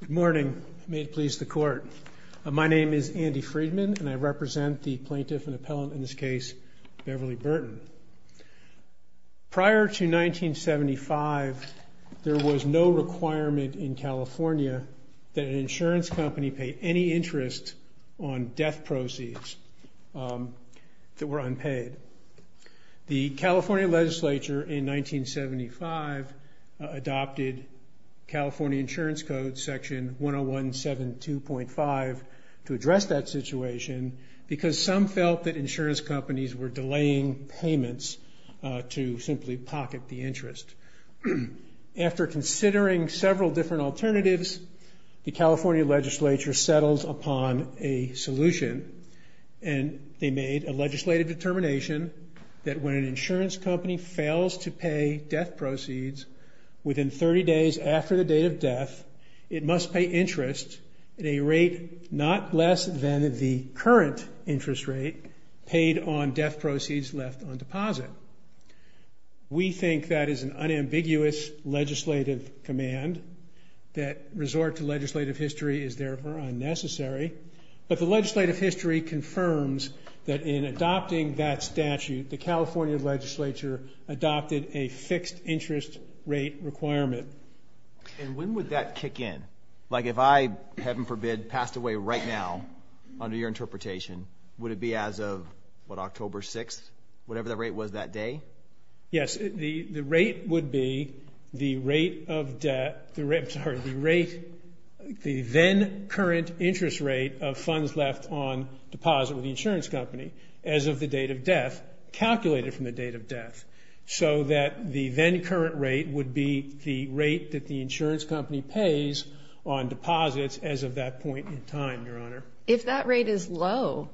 Good morning. May it please the Court. My name is Andy Freedman and I represent the plaintiff and appellant in this case, Beverly Burton. Prior to 1975, there was no requirement in California that an insurance company pay any interest on death proceeds that were unpaid. The California legislature in 1975 adopted California Insurance Code section 10172.5 to address that situation because some felt that insurance companies were delaying payments to simply pocket the interest. After considering several different alternatives, the California legislature settles upon a solution and they made a legislative determination that when an insurance company fails to pay death proceeds within 30 days after the date of death, it must pay interest at a rate not less than the current interest rate paid on death proceeds left on deposit. We think that is an unambiguous legislative command that resort to legislative history is however unnecessary, but the legislative history confirms that in adopting that statute, the California legislature adopted a fixed interest rate requirement. And when would that kick in? Like if I, heaven forbid, passed away right now under your interpretation, would it be as of, what, October 6th? Whatever the rate was that day? Yes, the rate would be the rate of death, the rate, I'm sorry, the rate, the then current interest rate of funds left on deposit with the insurance company as of the date of death, calculated from the date of death, so that the then current rate would be the rate that the insurance company pays on deposits as of that point in time, Your Honor. If that rate is low,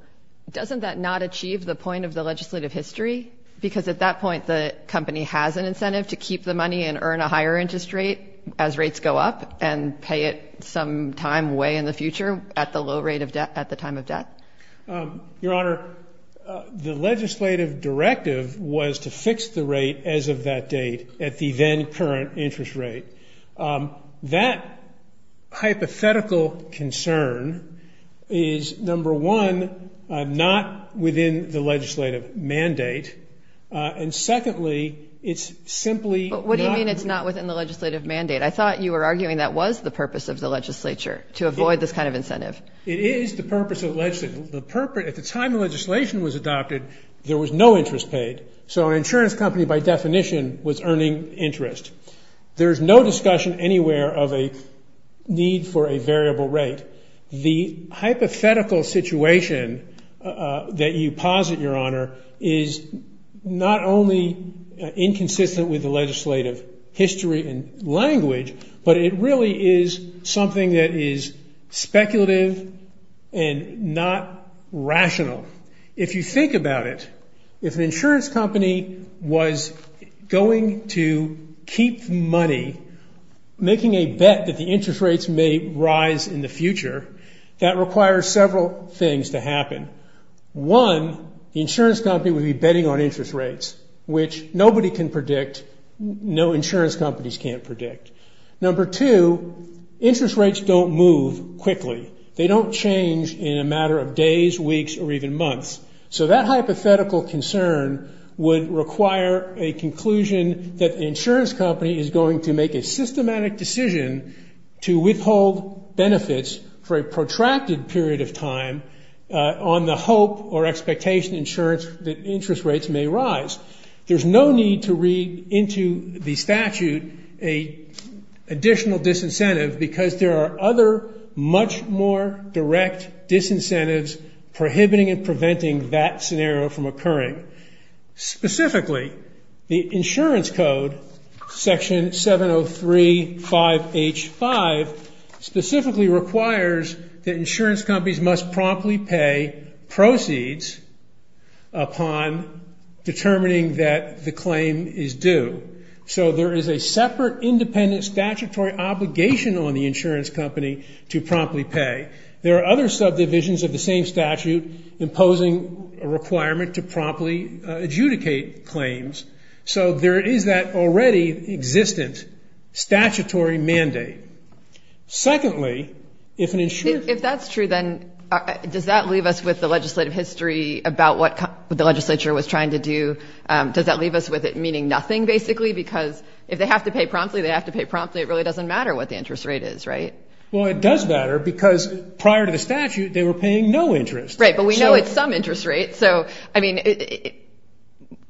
doesn't that not achieve the point of the legislative history? Because at that point, the company has an incentive to keep the money and earn a higher interest rate as rates go up and pay it some time away in the future at the low rate of death, at the time of death? Your Honor, the legislative directive was to fix the rate as of that date at the then current interest rate. That hypothetical concern is, number one, not within the legislative mandate. And secondly, it's simply not... But what do you mean it's not within the legislative mandate? I thought you were arguing that was the purpose of the legislature, to avoid this kind of incentive. It is the purpose of the legislature. At the time the legislation was adopted, there was no interest paid. So an insurance company, by definition, was earning interest. There's no discussion anywhere of a need for a variable rate. The hypothetical situation that you posit, Your Honor, is not only inconsistent with the legislative history and language, but it really is something that is speculative and not rational. If you think about it, if an insurance company was going to keep money, making a bet that the interest rates may rise in the future, that requires several things to happen. One, the insurance company would be interest rates don't move quickly. They don't change in a matter of days, weeks, or even months. So that hypothetical concern would require a conclusion that the insurance company is going to make a systematic decision to withhold benefits for a protracted period of time on the hope or expectation, insurance, that interest rates may rise. There's no need to read into the statute an additional disincentive because there are other, much more direct disincentives prohibiting and preventing that scenario from occurring. Specifically, the insurance code, section 7035H5, specifically requires that insurance companies must promptly pay proceeds upon determining that the claim is due. So there is a separate independent statutory obligation on the insurance company to promptly pay. There are other subdivisions of the same statute imposing a requirement to promptly adjudicate claims. So there is that already existent statutory mandate. Secondly, if an insurer... If that's true, then does that leave us with the legislative history about what the legislature was trying to do? Does that leave us with it meaning nothing, basically? Because if they have to pay promptly, they have to pay promptly. It really doesn't matter what the interest rate is, right? Well, it does matter because prior to the statute, they were paying no interest. Right. But we know it's some interest rate. So, I mean,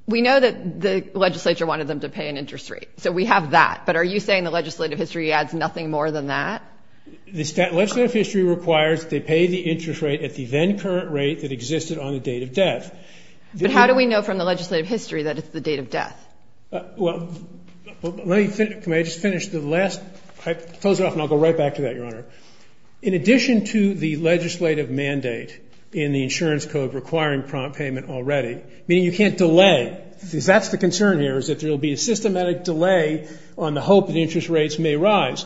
we know that the legislature wanted them to pay an interest rate. So we have that. But are you saying the legislative history adds nothing more than that? The legislative history requires they pay the interest rate at the then current rate that existed on the date of death. But how do we know from the legislative history that it's the date of death? Well, let me just finish the last... I'll close it off and I'll go right back to that, Your Honor. In addition to the legislative mandate in the insurance code requiring prompt payment already, meaning you can't delay, because that's the concern here, is that there will be a systematic delay on the hope that interest rates may rise.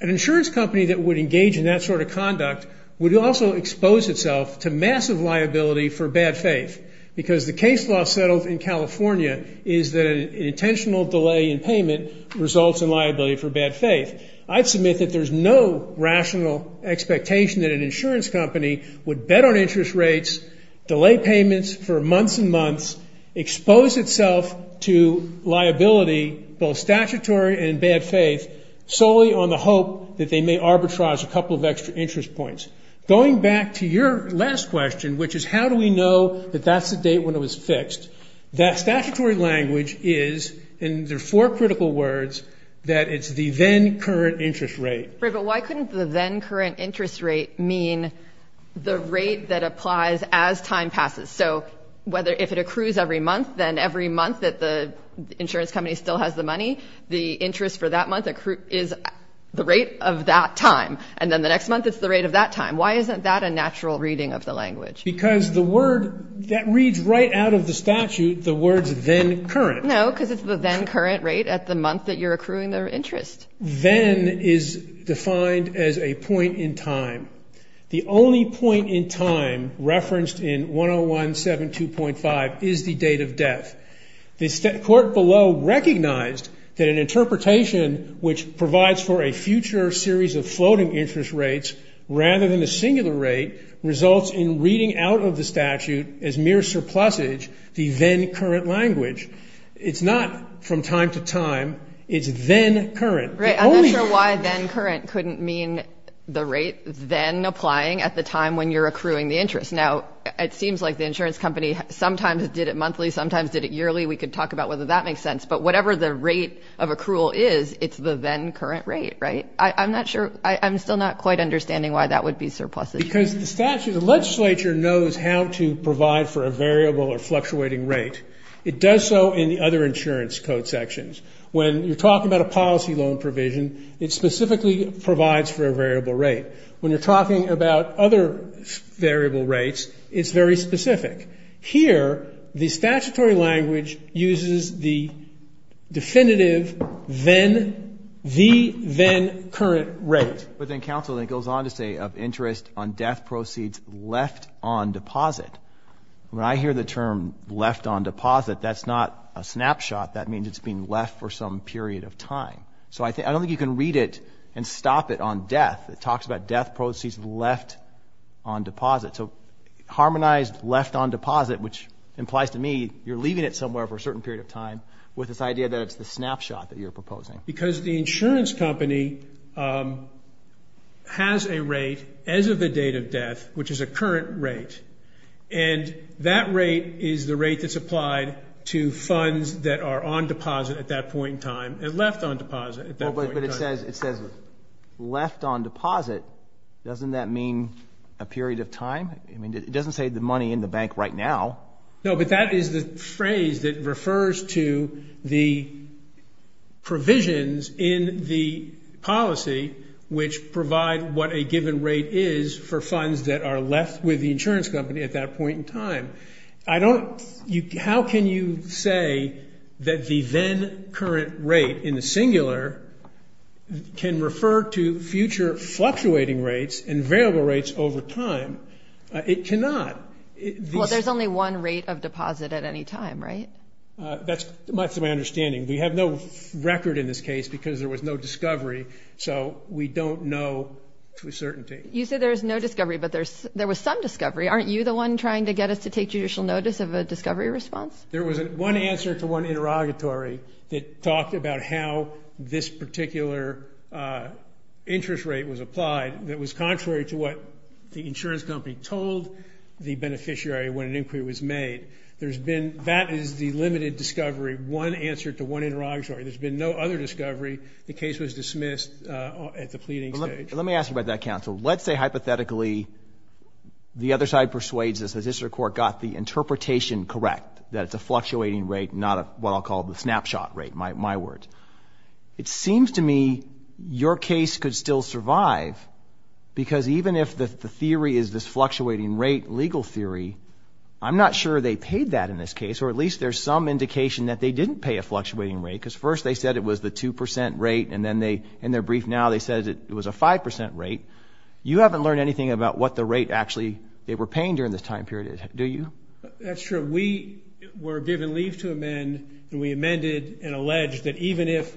An insurance company that would engage in that sort of conduct would also expose itself to massive liability for bad faith, because the case law settled in California is that an intentional delay in payment results in liability for bad faith. I'd submit that there's no rational expectation that an insurance company would bet on interest rates, delay payments for months and months, expose itself to liability, both statutory and bad faith, solely on the hope that they may arbitrage a couple of extra interest points. Going back to your last question, which is how do we know that that's the date when it was fixed, that statutory language is, in the four critical words, that it's the then current interest rate. Right, but why couldn't the then current interest rate mean the rate that applies as time passes? So whether if it accrues every month, then every month that the insurance company still has the money, the interest for that month is the rate of that time. And then the next month, it's the rate of that time. Why isn't that a natural reading of the language? Because the word that reads right out of the statute, the words then current. No, because it's the then current rate at the month that you're accruing the interest. Then is defined as a point in time. The only point in time referenced in 101-72.5 is the date of death. The court below recognized that an interpretation which provides for a future series of floating interest rates rather than a singular rate results in reading out of the statute as Right, I'm not sure why then current couldn't mean the rate then applying at the time when you're accruing the interest. Now, it seems like the insurance company sometimes did it monthly, sometimes did it yearly. We could talk about whether that makes sense. But whatever the rate of accrual is, it's the then current rate, right? I'm not sure. I'm still not quite understanding why that would be surpluses. Because the statute, the legislature knows how to provide for a variable or fluctuating rate. It does so in the other insurance code sections. When you're talking about a policy loan provision, it specifically provides for a variable rate. When you're talking about other variable rates, it's very specific. Here, the statutory language uses the definitive then, the then current rate. But then counsel then goes on to say of interest on death proceeds left on deposit. When I hear the term left on deposit, that's not a snapshot. That means it's been left for some period of time. So I don't think you can read it and stop it on death. It talks about death proceeds left on deposit. So harmonized left on deposit, which implies to me you're leaving it somewhere for a certain period of time with this idea that it's the snapshot that you're proposing. Because the insurance company has a rate as of the date of death, which is a current rate. And that rate is the rate that's applied to funds that are on deposit at that point in time and left on deposit at that point in time. But it says left on deposit. Doesn't that mean a period of time? I mean, it doesn't say the money in the bank right now. No, but that is the phrase that refers to the provisions in the policy which provide what a given rate is for funds that are left with the that the then current rate in the singular can refer to future fluctuating rates and variable rates over time. It cannot. Well, there's only one rate of deposit at any time, right? That's my understanding. We have no record in this case because there was no discovery. So we don't know to a certainty. You say there is no discovery, but there was some discovery. Aren't you the one trying to get us to take judicial notice of a discovery response? There was one answer to one interrogatory that talked about how this particular interest rate was applied. That was contrary to what the insurance company told the beneficiary when an inquiry was made. There's been that is the limited discovery. One answer to one interrogatory. There's been no other discovery. The case was dismissed at the pleading stage. Let me ask you about that, counsel. Let's say, hypothetically, the other side persuades us, says this court got the interpretation correct, that it's a fluctuating rate, not what I'll call the snapshot rate, my words. It seems to me your case could still survive because even if the theory is this fluctuating rate legal theory, I'm not sure they paid that in this case, or at least there's some indication that they didn't pay a fluctuating rate because first they said it was the 2% rate, and then they, in their brief now, they said it was a 5% rate. You haven't learned anything about what the rate actually they were paying during this time period is, do you? That's true. We were given leave to amend, and we amended and alleged that even if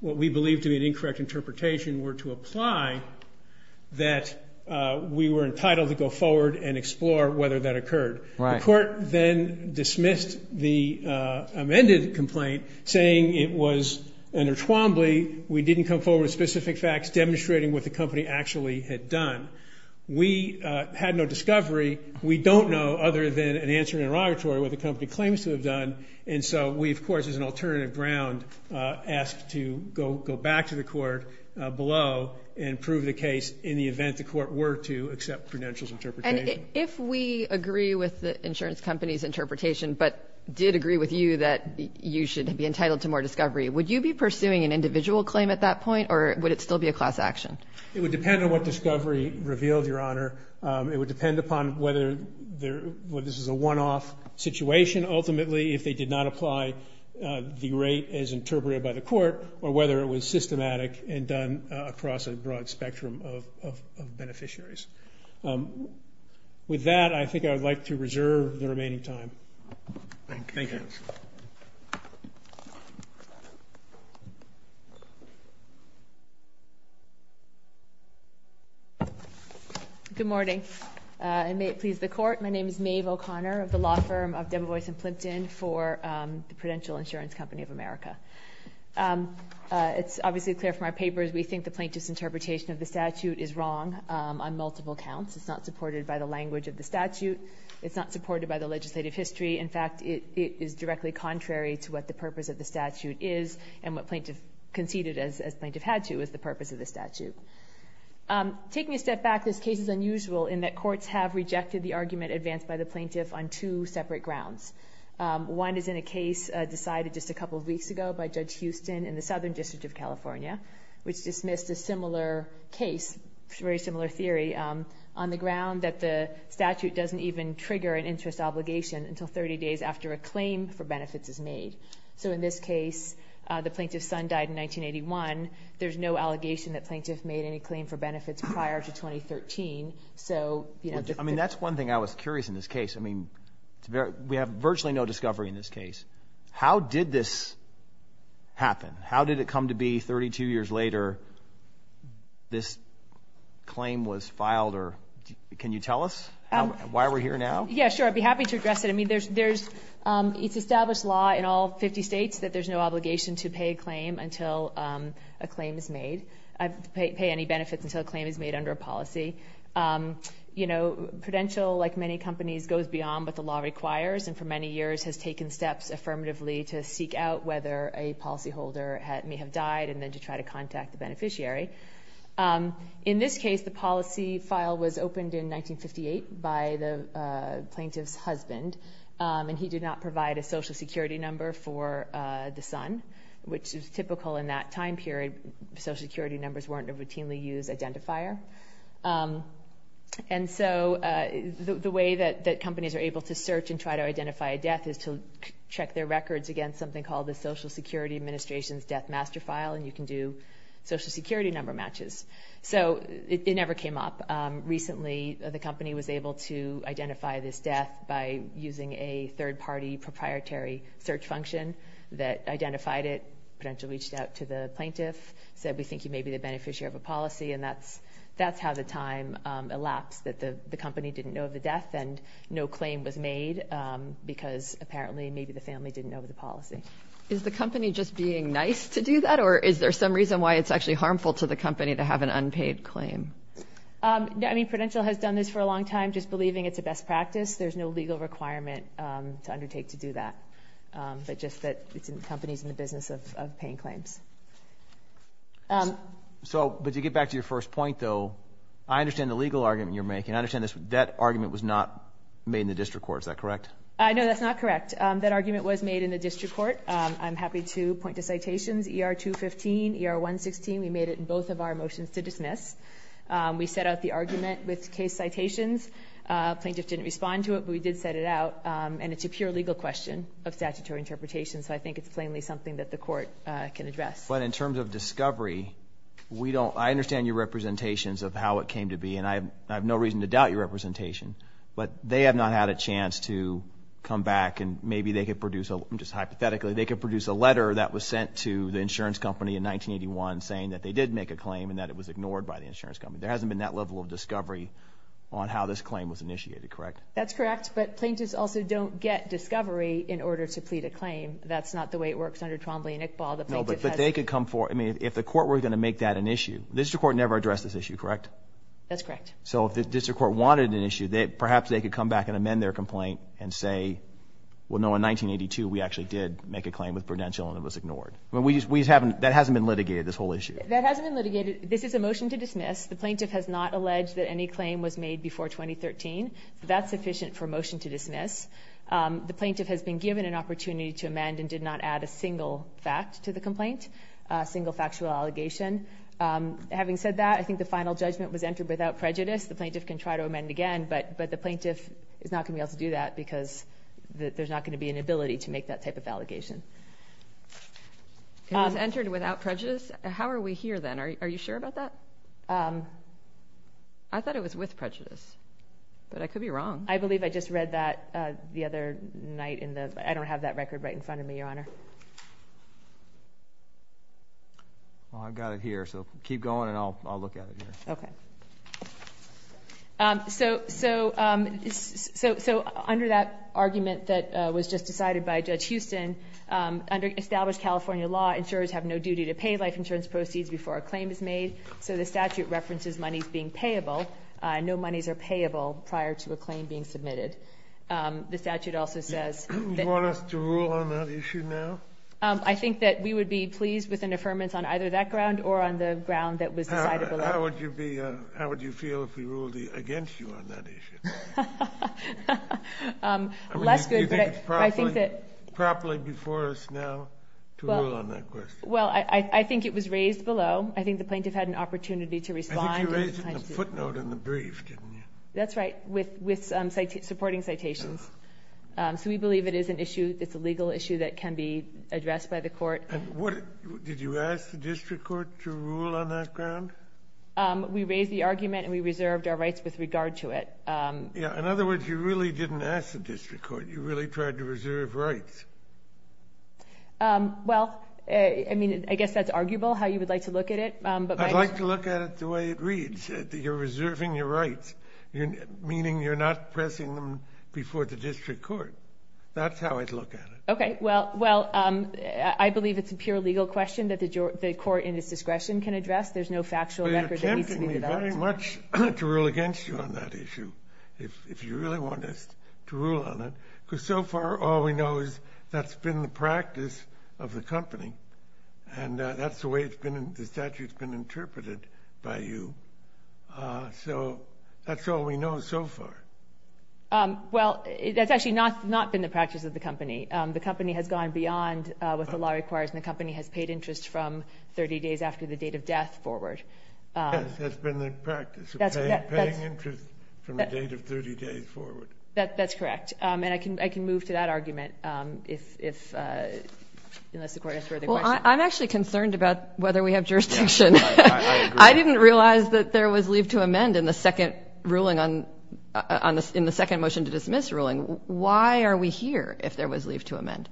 what we believed to be an incorrect interpretation were to apply, that we were entitled to go forward and explore whether that occurred. The court then dismissed the amended complaint, saying it was an er-twombly, we didn't come forward with specific facts demonstrating what the company actually had done. We had no discovery. We don't know, other than an answer in an interrogatory, what the company claims to have done. And so we, of course, as an alternative ground, asked to go back to the court below and prove the case in the event the court were to accept Prudential's interpretation. And if we agree with the insurance company's interpretation, but did agree with you that you should be entitled to more discovery, would you be pursuing an individual claim at that point, or would it still be a class action? It would depend on what discovery revealed, Your Honor. It would depend upon whether this is a one-off situation, ultimately, if they did not apply the rate as interpreted by the court, or whether it was systematic and done across a broad spectrum of beneficiaries. With that, I think I would like to reserve the remaining time. Thank you. Good morning. And may it please the Court, my name is Maeve O'Connor of the law firm of Demovoice and Plimpton for the Prudential Insurance Company of America. It's obviously clear from our papers, we think the plaintiff's interpretation of the statute is wrong on multiple counts. It's not supported by the language of the statute. It's not supported by the legislative history. In fact, it is directly contrary to what the purpose of the statute is and what plaintiff conceded, as plaintiff had to, is the purpose of the statute. Taking a step back, this case is unusual in that courts have rejected the argument advanced by the plaintiff on two separate grounds. One is in a case decided just a couple of weeks ago by Judge Houston in the Southern District of California, which dismissed a similar case, very similar theory, on the ground that the statute doesn't even trigger an interest obligation until 30 days after a claim for benefits is made. So in this case, the plaintiff's son died in 1981. There's no allegation that plaintiff made any claim for benefits prior to 2013. So, you know, just... I mean, that's one thing I was curious in this case. I mean, we have virtually no discovery in this case. How did this happen? How did it come to be 32 years later this claim was filed or... Can you tell us why we're here now? Yeah, sure. I'd be happy to address it. I mean, there's... It's established law in all 50 states that there's no obligation to pay a claim until a claim is made, pay any benefits until a claim is made under a policy. You know, Prudential, like many companies, goes beyond what the law requires and for many years has taken steps affirmatively to seek out whether a policyholder may have died and then to try to contact the beneficiary. In this case, the policy file was opened in 1958 by the plaintiff's husband, and he did not provide a social security number for the son, which is typical in that time period. Social security numbers weren't a routinely used identifier. And so the way that companies are able to search and try to identify a death is to check their records against something called the Social Security Administration's Death Master File, and you can do social security number matches. So it never came up. Recently, the company was able to identify this death by using a third-party proprietary search function that identified it, Prudential reached out to the plaintiff, said, we think you may be the beneficiary of a policy, and that's how the time elapsed, that the company didn't know of the death and no claim was made because apparently maybe the family didn't know of the policy. Is the company just being nice to do that, or is there some reason why it's actually harmful to the company to have an unpaid claim? I mean, Prudential has done this for a long time, just believing it's a best practice. There's no legal requirement to undertake to do that, but just that it's in the company's in the business of paying claims. So, but to get back to your first point, though, I understand the legal argument you're making. I understand that argument was not made in the district court, is that correct? No, that's not correct. That argument was made in the district court. I'm happy to point to citations, ER 215, ER 116. We made it in both of our motions to dismiss. We set out the argument with case citations. Plaintiff didn't respond to it, but we did set it out, and it's a pure legal question of statutory interpretation, so I think it's plainly something that the court can address. But in terms of discovery, we don't, I understand your representations of how it came to be, and I have no reason to doubt your representation, but they have not had a chance to come back, and maybe they could produce a, just hypothetically, they could produce a letter that was sent to the insurance company in 1981 saying that they did make a claim and that it was ignored by the insurance company. There hasn't been that level of discovery on how this claim was initiated, correct? That's correct, but plaintiffs also don't get discovery in order to plead a claim. That's not the way it works under Trombley and Iqbal. No, but they could come forward, I mean, if the court were going to make that an issue. The district court never addressed this issue, correct? That's correct. So if the district court wanted an issue, perhaps they could come back and amend their complaint and say, well, no, in 1982, we actually did make a claim with Prudential and it was ignored. I mean, that hasn't been litigated, this whole issue. That hasn't been litigated. This is a motion to dismiss. The plaintiff has not alleged that any claim was made before 2013. That's sufficient for a motion to dismiss. The plaintiff has been given an opportunity to amend and did not add a single fact to the complaint, a single factual allegation. Having said that, I think the final judgment was entered without prejudice. The plaintiff can try to amend again, but the plaintiff is not going to be able to do that because there's not going to be an ability to make that type of allegation. It was entered without prejudice? How are we here then? Are you sure about that? I thought it was with prejudice. But I could be wrong. I believe I just read that the other night in the... I don't have that record right in front of me, Your Honor. Well, I've got it here, so keep going and I'll look at it here. Okay. So, under that argument that was just decided by Judge Houston, under established California law, insurers have no duty to pay life insurance proceeds before a claim is made. So the statute references monies being payable. No monies are payable prior to a claim being submitted. The statute also says... Do you want us to rule on that issue now? I think that we would be pleased with an affirmance on either that ground or on the ground that was decided below. How would you feel if we ruled against you on that issue? Less good, but I think that... Do you think it's properly before us now to rule on that question? Well, I think it was raised below. I think the plaintiff had an opportunity to respond. I think you raised it in the footnote in the brief, didn't you? That's right, with supporting citations. So we believe it is an issue, it's a legal issue that can be addressed by the court. And what... Did you ask the district court to rule on that ground? We raised the argument and we reserved our rights with regard to it. Yeah, in other words, you really didn't ask the district court. You really tried to reserve rights. Well, I mean, I guess that's arguable, how you would like to look at it. I'd like to look at it the way it reads, that you're reserving your rights, meaning you're not pressing them before the district court. That's how I'd look at it. OK, well, I believe it's a pure legal question that the court in its discretion can address. There's no factual record that needs to be developed. You're tempting me very much to rule against you on that issue, if you really want us to rule on it, because so far all we know is that's been the practice of the company. And that's the way the statute's been interpreted by you. So that's all we know so far. Well, that's actually not been the practice of the company. The company has gone beyond what the law requires and the company has paid interest from 30 days after the date of death forward. Yes, that's been the practice, paying interest from the date of 30 days forward. That's correct. And I can move to that argument, unless the court has further questions. Well, I'm actually concerned about whether we have jurisdiction. I didn't realise that there was leave to amend in the second ruling on... in the second motion to dismiss ruling. Why are we here if there was leave to amend?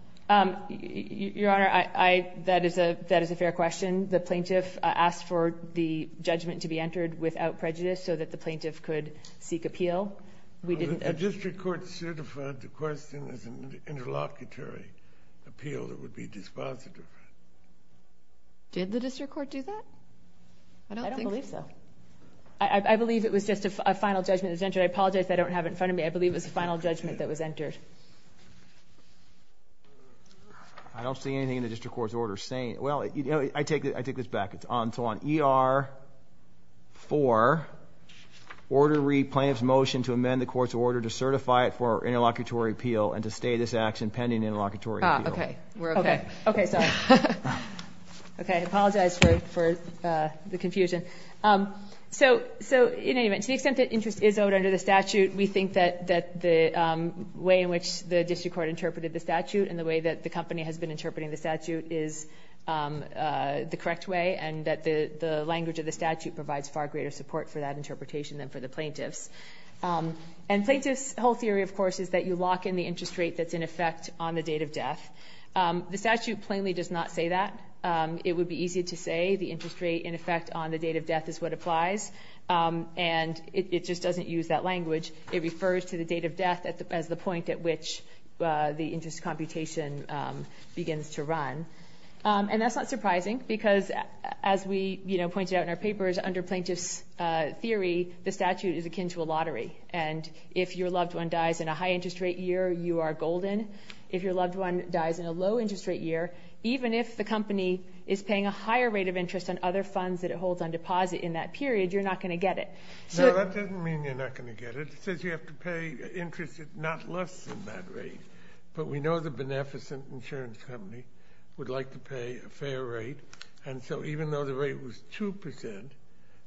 Your Honour, that is a fair question. The plaintiff asked for the judgment to be entered without prejudice so that the plaintiff could seek appeal. The district court certified the question as an interlocutory appeal that would be dispositive. Did the district court do that? I don't believe so. I believe it was just a final judgment that was entered. I apologise if I don't have it in front of me. I believe it was a final judgment that was entered. I don't see anything in the district court's order saying... Well, I take this back. It's on to on ER 4, order re... Plaintiff's motion to amend the court's order to certify it for interlocutory appeal and to stay this action pending interlocutory appeal. Ah, OK. We're OK. OK, sorry. OK, I apologise for the confusion. So, in any event, to the extent that interest is owed under the statute, we think that the way in which the district court interpreted the statute and the way that the company has been interpreting the statute is the correct way and that the language of the statute provides far greater support for that interpretation than for the plaintiffs. And plaintiffs' whole theory, of course, is that you lock in the interest rate that's in effect on the date of death. The statute plainly does not say that. It would be easier to say the interest rate in effect on the date of death is what applies. And it just doesn't use that language. It refers to the date of death as the point at which the interest computation begins to run. And that's not surprising because, as we, you know, under plaintiffs' theory, the statute is akin to a lottery. And if your loved one dies in a high interest rate year, you are golden. If your loved one dies in a low interest rate year, even if the company is paying a higher rate of interest on other funds that it holds on deposit in that period, you're not going to get it. No, that doesn't mean you're not going to get it. It says you have to pay interest not less than that rate. But we know the beneficent insurance company would like to pay a fair rate. And so even though the rate was 2%,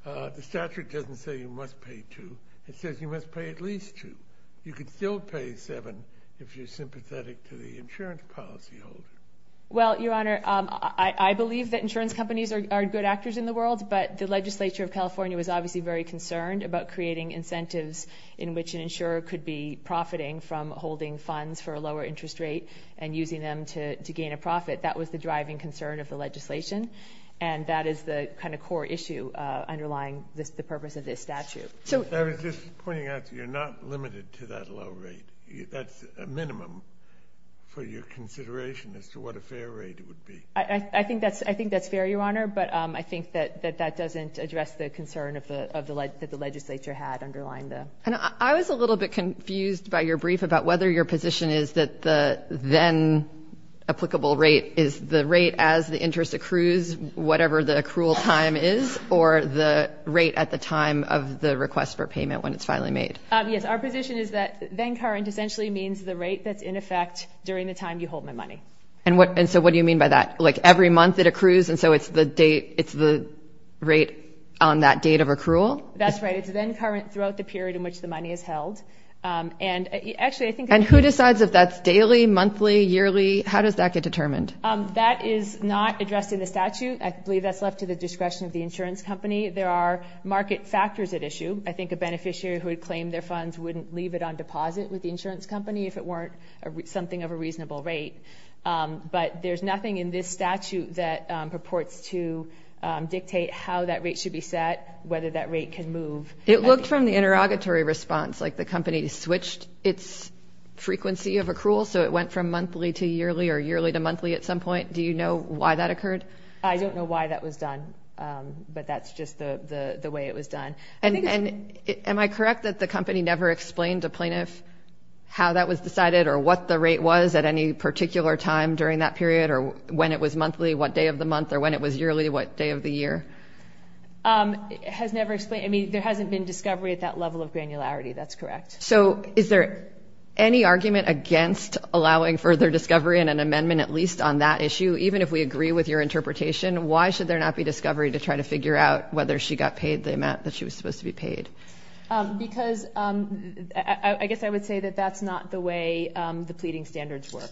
the statute doesn't say you must pay 2%. It says you must pay at least 2%. You could still pay 7% if you're sympathetic to the insurance policy holder. Well, Your Honour, I believe that insurance companies are good actors in the world, but the legislature of California was obviously very concerned about creating incentives in which an insurer could be profiting from holding funds for a lower interest rate and using them to gain a profit. That was the driving concern of the legislation, and that is the kind of core issue underlying the purpose of this statute. I was just pointing out that you're not limited to that low rate. That's a minimum for your consideration as to what a fair rate would be. I think that's fair, Your Honour, but I think that that doesn't address the concern that the legislature had underlying the... And I was a little bit confused by your brief about whether your position is that the then-applicable rate is the rate as the interest accrues, whatever the accrual time is, or the rate at the time of the request for payment when it's finally made. Yes, our position is that then-current essentially means the rate that's in effect during the time you hold my money. And so what do you mean by that? Like, every month it accrues, and so it's the rate on that date of accrual? That's right. It's then-current throughout the period And actually, I think... And who decides if that's daily, monthly, yearly? How does that get determined? That is not addressed in the statute. I believe that's left to the discretion of the insurance company. There are market factors at issue. I think a beneficiary who had claimed their funds wouldn't leave it on deposit with the insurance company if it weren't something of a reasonable rate. But there's nothing in this statute that purports to dictate how that rate should be set, whether that rate can move. It looked from the interrogatory response, like the company switched its frequency of accrual, so it went from monthly to yearly or yearly to monthly at some point. Do you know why that occurred? I don't know why that was done, but that's just the way it was done. And am I correct that the company never explained to plaintiff how that was decided or what the rate was at any particular time during that period, or when it was monthly, what day of the month, or when it was yearly, what day of the year? Has never explained. There hasn't been discovery at that level of granularity. That's correct. So is there any argument against allowing further discovery in an amendment, at least on that issue? Even if we agree with your interpretation, why should there not be discovery to try to figure out whether she got paid the amount that she was supposed to be paid? Because I guess I would say that that's not the way the pleading standards work.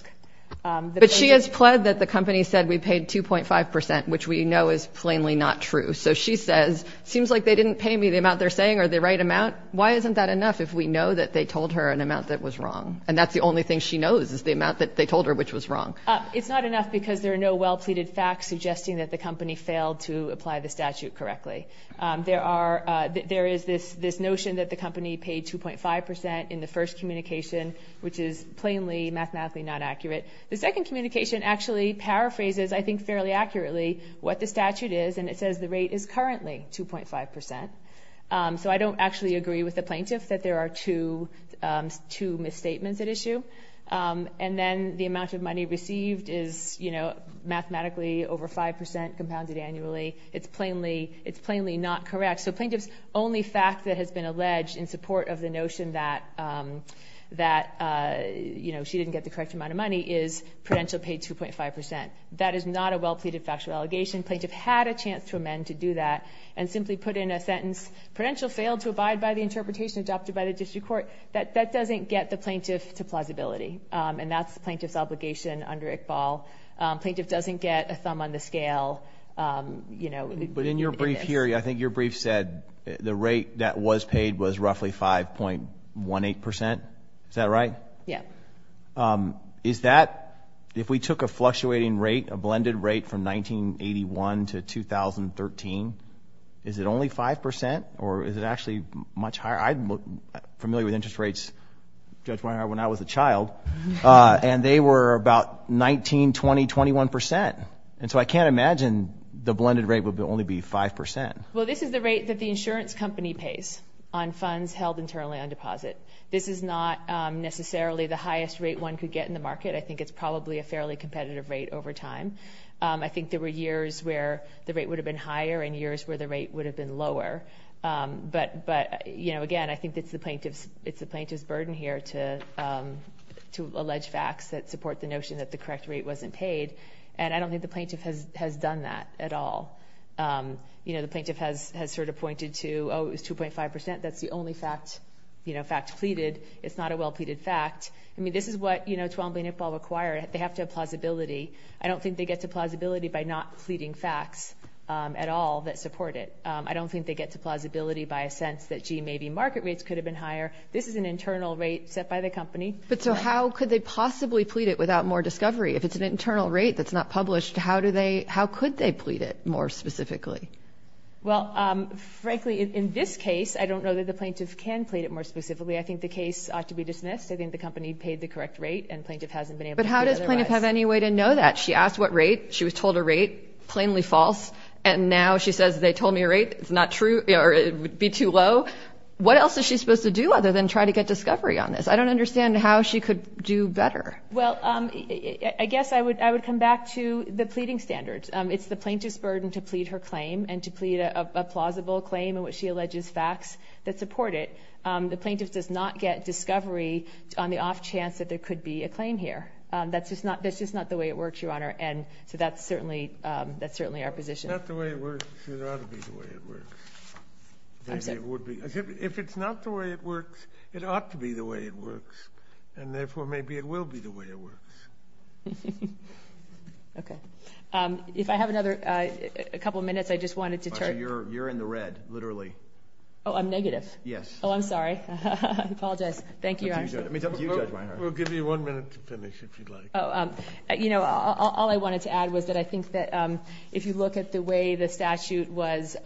But she has pled that the company said we paid 2.5%, which we know is plainly not true. So she says, seems like they didn't pay me the amount they're saying or the right amount. Why isn't that enough if we know that they told her an amount that was wrong? And that's the only thing she knows, is the amount that they told her which was wrong. It's not enough because there are no well-pleaded facts suggesting that the company failed to apply the statute correctly. There is this notion that the company paid 2.5% in the first communication, which is plainly mathematically not accurate. The second communication actually paraphrases, I think fairly accurately, what the statute is, and it says the rate is currently 2.5%. So I don't actually agree with the plaintiff that there are two misstatements at issue. And then the amount of money received is, you know, mathematically over 5% compounded annually. It's plainly not correct. So plaintiff's only fact that has been alleged in support of the notion that she didn't get the correct amount of money is prudential paid 2.5%. That is not a well-pleaded factual allegation. Plaintiff had a chance to amend to do that and simply put in a sentence, prudential failed to abide by the interpretation adopted by the district court. That doesn't get the plaintiff to plausibility, and that's the plaintiff's obligation under Iqbal. Plaintiff doesn't get a thumb on the scale, you know. But in your brief here, I think your brief said the rate that was paid was roughly 5.18%. Is that right? Yeah. Is that, if we took a fluctuating rate, a blended rate from 1981 to 2013, is it only 5% or is it actually much higher? I'm familiar with interest rates, Judge Weiner, when I was a child, and they were about 19, 20, 21%. And so I can't imagine the blended rate would only be 5%. Well, this is the rate that the insurance company pays on funds held internally on deposit. This is not necessarily the highest rate one could get in the market. I think it's probably a fairly competitive rate over time. I think there were years where the rate would have been higher and years where the rate would have been lower. But, you know, again, I think it's the plaintiff's burden here to allege facts that support the notion that the correct rate wasn't paid. And I don't think the plaintiff has done that at all. You know, the plaintiff has sort of pointed to, oh, it was 2.5%. That's the only fact, you know, fact pleaded. It's not a well-pleaded fact. I mean, this is what, you know, 12 and B and Iqbal require. They have to have plausibility. I don't think they get to plausibility by not pleading facts at all that support it. I don't think they get to plausibility by a sense that, gee, maybe market rates could have been higher. This is an internal rate set by the company. But so how could they possibly plead it without more discovery? If it's an internal rate that's not published, how do they, how could they plead it more specifically? Well, frankly, in this case, I don't know that the plaintiff can plead it more specifically. I think the case ought to be dismissed. I think the company paid the correct rate and plaintiff hasn't been able to plead otherwise. But how does plaintiff have any way to know that? She asked what rate. She was told a rate, plainly false. And now she says, they told me a rate. It's not true or it would be too low. What else is she supposed to do other than try to get discovery on this? I don't understand how she could do better. Well, I guess I would come back to the pleading standards. It's the plaintiff's burden to plead her claim and to plead a plausible claim in which she alleges facts that support it. The plaintiff does not get discovery on the off chance that there could be a claim here. That's just not the way it works, Your Honor. And so that's certainly our position. If it's not the way it works, it ought to be the way it works. I'm sorry. If it's not the way it works, it ought to be the way it works. And therefore, maybe it will be the way it works. Okay. If I have another couple of minutes, I just wanted to turn. You're in the red, literally. Oh, I'm negative? Yes. Oh, I'm sorry. I apologize. Thank you, Your Honor. Let me talk to you, Judge Meijer. We'll give you one minute to finish if you'd like. Oh, you know, all I wanted to add was that I think that if you look at the way the statute was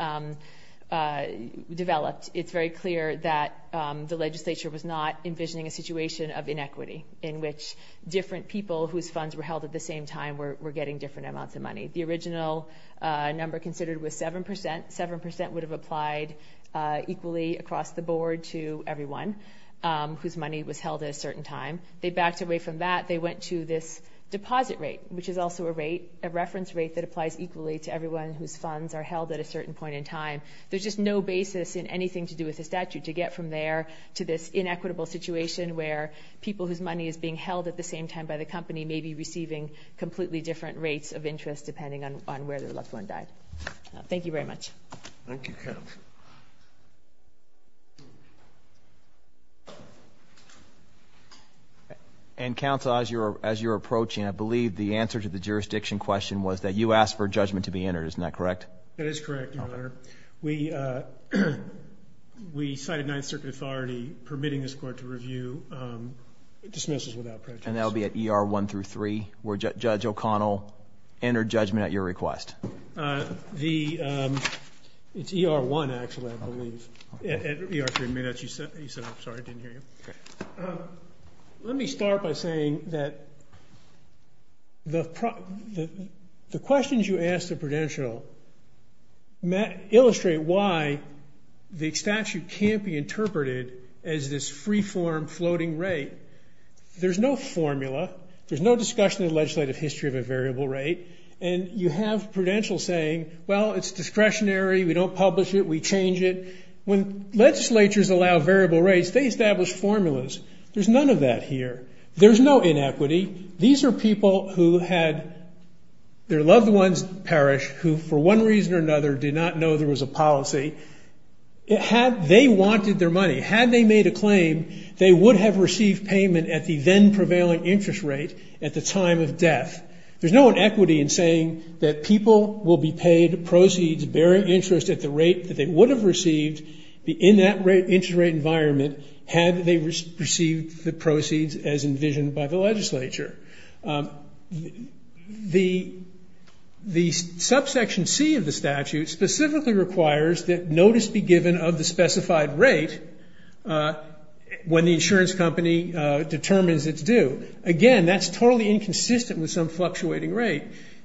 developed, it's very clear that the legislature was not envisioning a situation of inequity in which different people whose funds were held at the same time were getting different amounts of money. The original number considered was 7%. 7% would have applied equally across the board to everyone. Whose money was held at a certain time. They backed away from that. They went to this deposit rate, which is also a rate, a reference rate that applies equally to everyone whose funds are held at a certain point in time. There's just no basis in anything to do with the statute to get from there to this inequitable situation where people whose money is being held at the same time by the company may be receiving completely different rates of interest depending on where their loved one died. Thank you very much. Thank you, counsel. And counsel, as you're approaching, I believe the answer to the jurisdiction question was that you asked for judgment to be entered. Isn't that correct? That is correct, your honor. We cited Ninth Circuit authority permitting this court to review dismissals without prejudice. And that'll be at ER 1 through 3, where Judge O'Connell entered judgment at your request. The, it's ER 1 actually, I believe. At ER 3, you said, I'm sorry, I didn't hear you. Okay. Let me start by saying that the questions you asked of Prudential illustrate why the statute can't be interpreted as this free-form floating rate. There's no formula, there's no discussion in the legislative history of a variable rate, and you have Prudential saying, well, it's discretionary, we don't publish it, we change it. When legislatures allow variable rates, they establish formulas. There's none of that here. There's no inequity. These are people who had their loved ones perish, who for one reason or another did not know there was a policy. Had they wanted their money, had they made a claim, they would have received payment at the then-prevailing interest rate at the time of death. There's no inequity in saying that people will be paid proceeds bearing interest at the rate that they would have received in that rate, had they received the proceeds as envisioned by the legislature. The subsection C of the statute specifically requires that notice be given of the specified rate when the insurance company determines its due. Again, that's totally inconsistent with some fluctuating rate.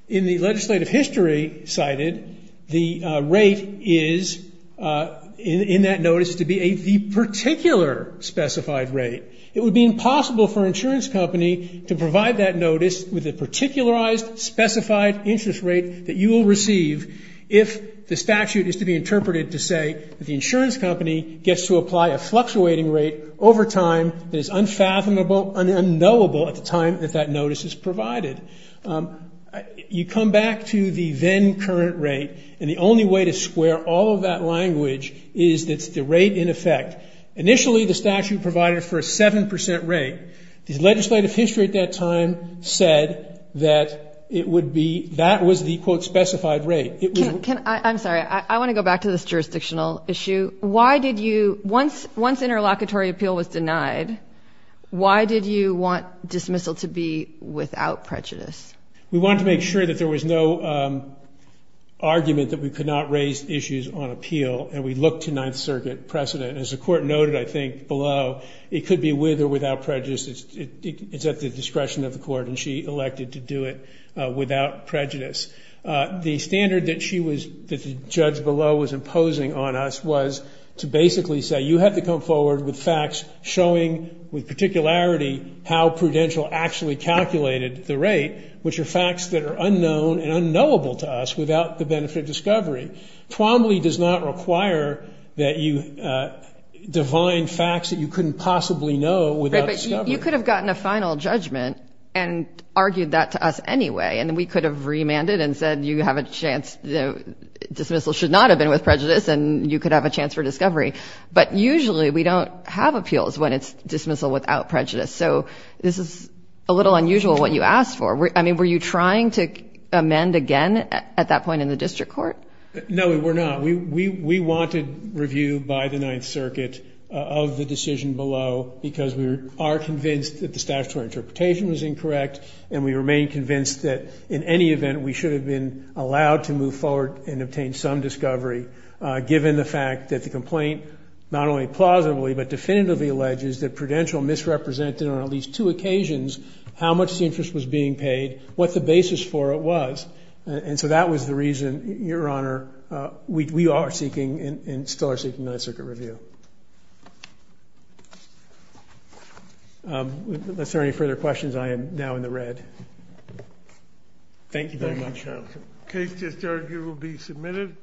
In the legislative history cited, the rate is, in that notice, to be the particular specified rate. It would be impossible for an insurance company to provide that notice with a particularized, specified interest rate that you will receive if the statute is to be interpreted to say that the insurance company gets to apply a fluctuating rate over time that is unfathomable, unknowable at the time that that notice is provided. You come back to the then-current rate, and the only way to square all of that language is that it's the rate in effect. Initially, the statute provided for a 7% rate. The legislative history at that time said that it would be, that was the quote specified rate. I'm sorry, I want to go back to this jurisdictional issue. Why did you, once interlocutory appeal was denied, why did you want dismissal to be without prejudice? We wanted to make sure that there was no argument that we could not raise issues on appeal, and we looked to Ninth Circuit precedent. As the Court noted, I think, below, it could be with or without prejudice. It's at the discretion of the Court, and she elected to do it without prejudice. The standard that she was, that the judge below was imposing on us was to basically say, you have to come forward with facts showing, with particularity, how Prudential actually calculated the rate, which are facts that are unknown and unknowable to us without the benefit of discovery. Twombly does not require that you divine facts that you couldn't possibly know without discovery. You could have gotten a final judgment and argued that to us anyway, and we could have remanded and said, you have a chance, dismissal should not have been with prejudice, and you could have a chance for discovery. But usually, we don't have appeals when it's dismissal without prejudice. So this is a little unusual, what you asked for. I mean, were you trying to amend again at that point in the district court? No, we were not. We wanted review by the Ninth Circuit of the decision below, because we are convinced that the statutory interpretation was incorrect, and we remain convinced that, in any event, we should have been allowed to move forward and obtain some discovery, given the fact that the complaint not only plausibly but definitively alleges that Prudential misrepresented on at least two occasions how much the interest was being paid, what the basis for it was. And so that was the reason, Your Honor, we are seeking and still are seeking Ninth Circuit review. Unless there are any further questions, I am now in the red. Thank you very much. Case to disargue will be submitted.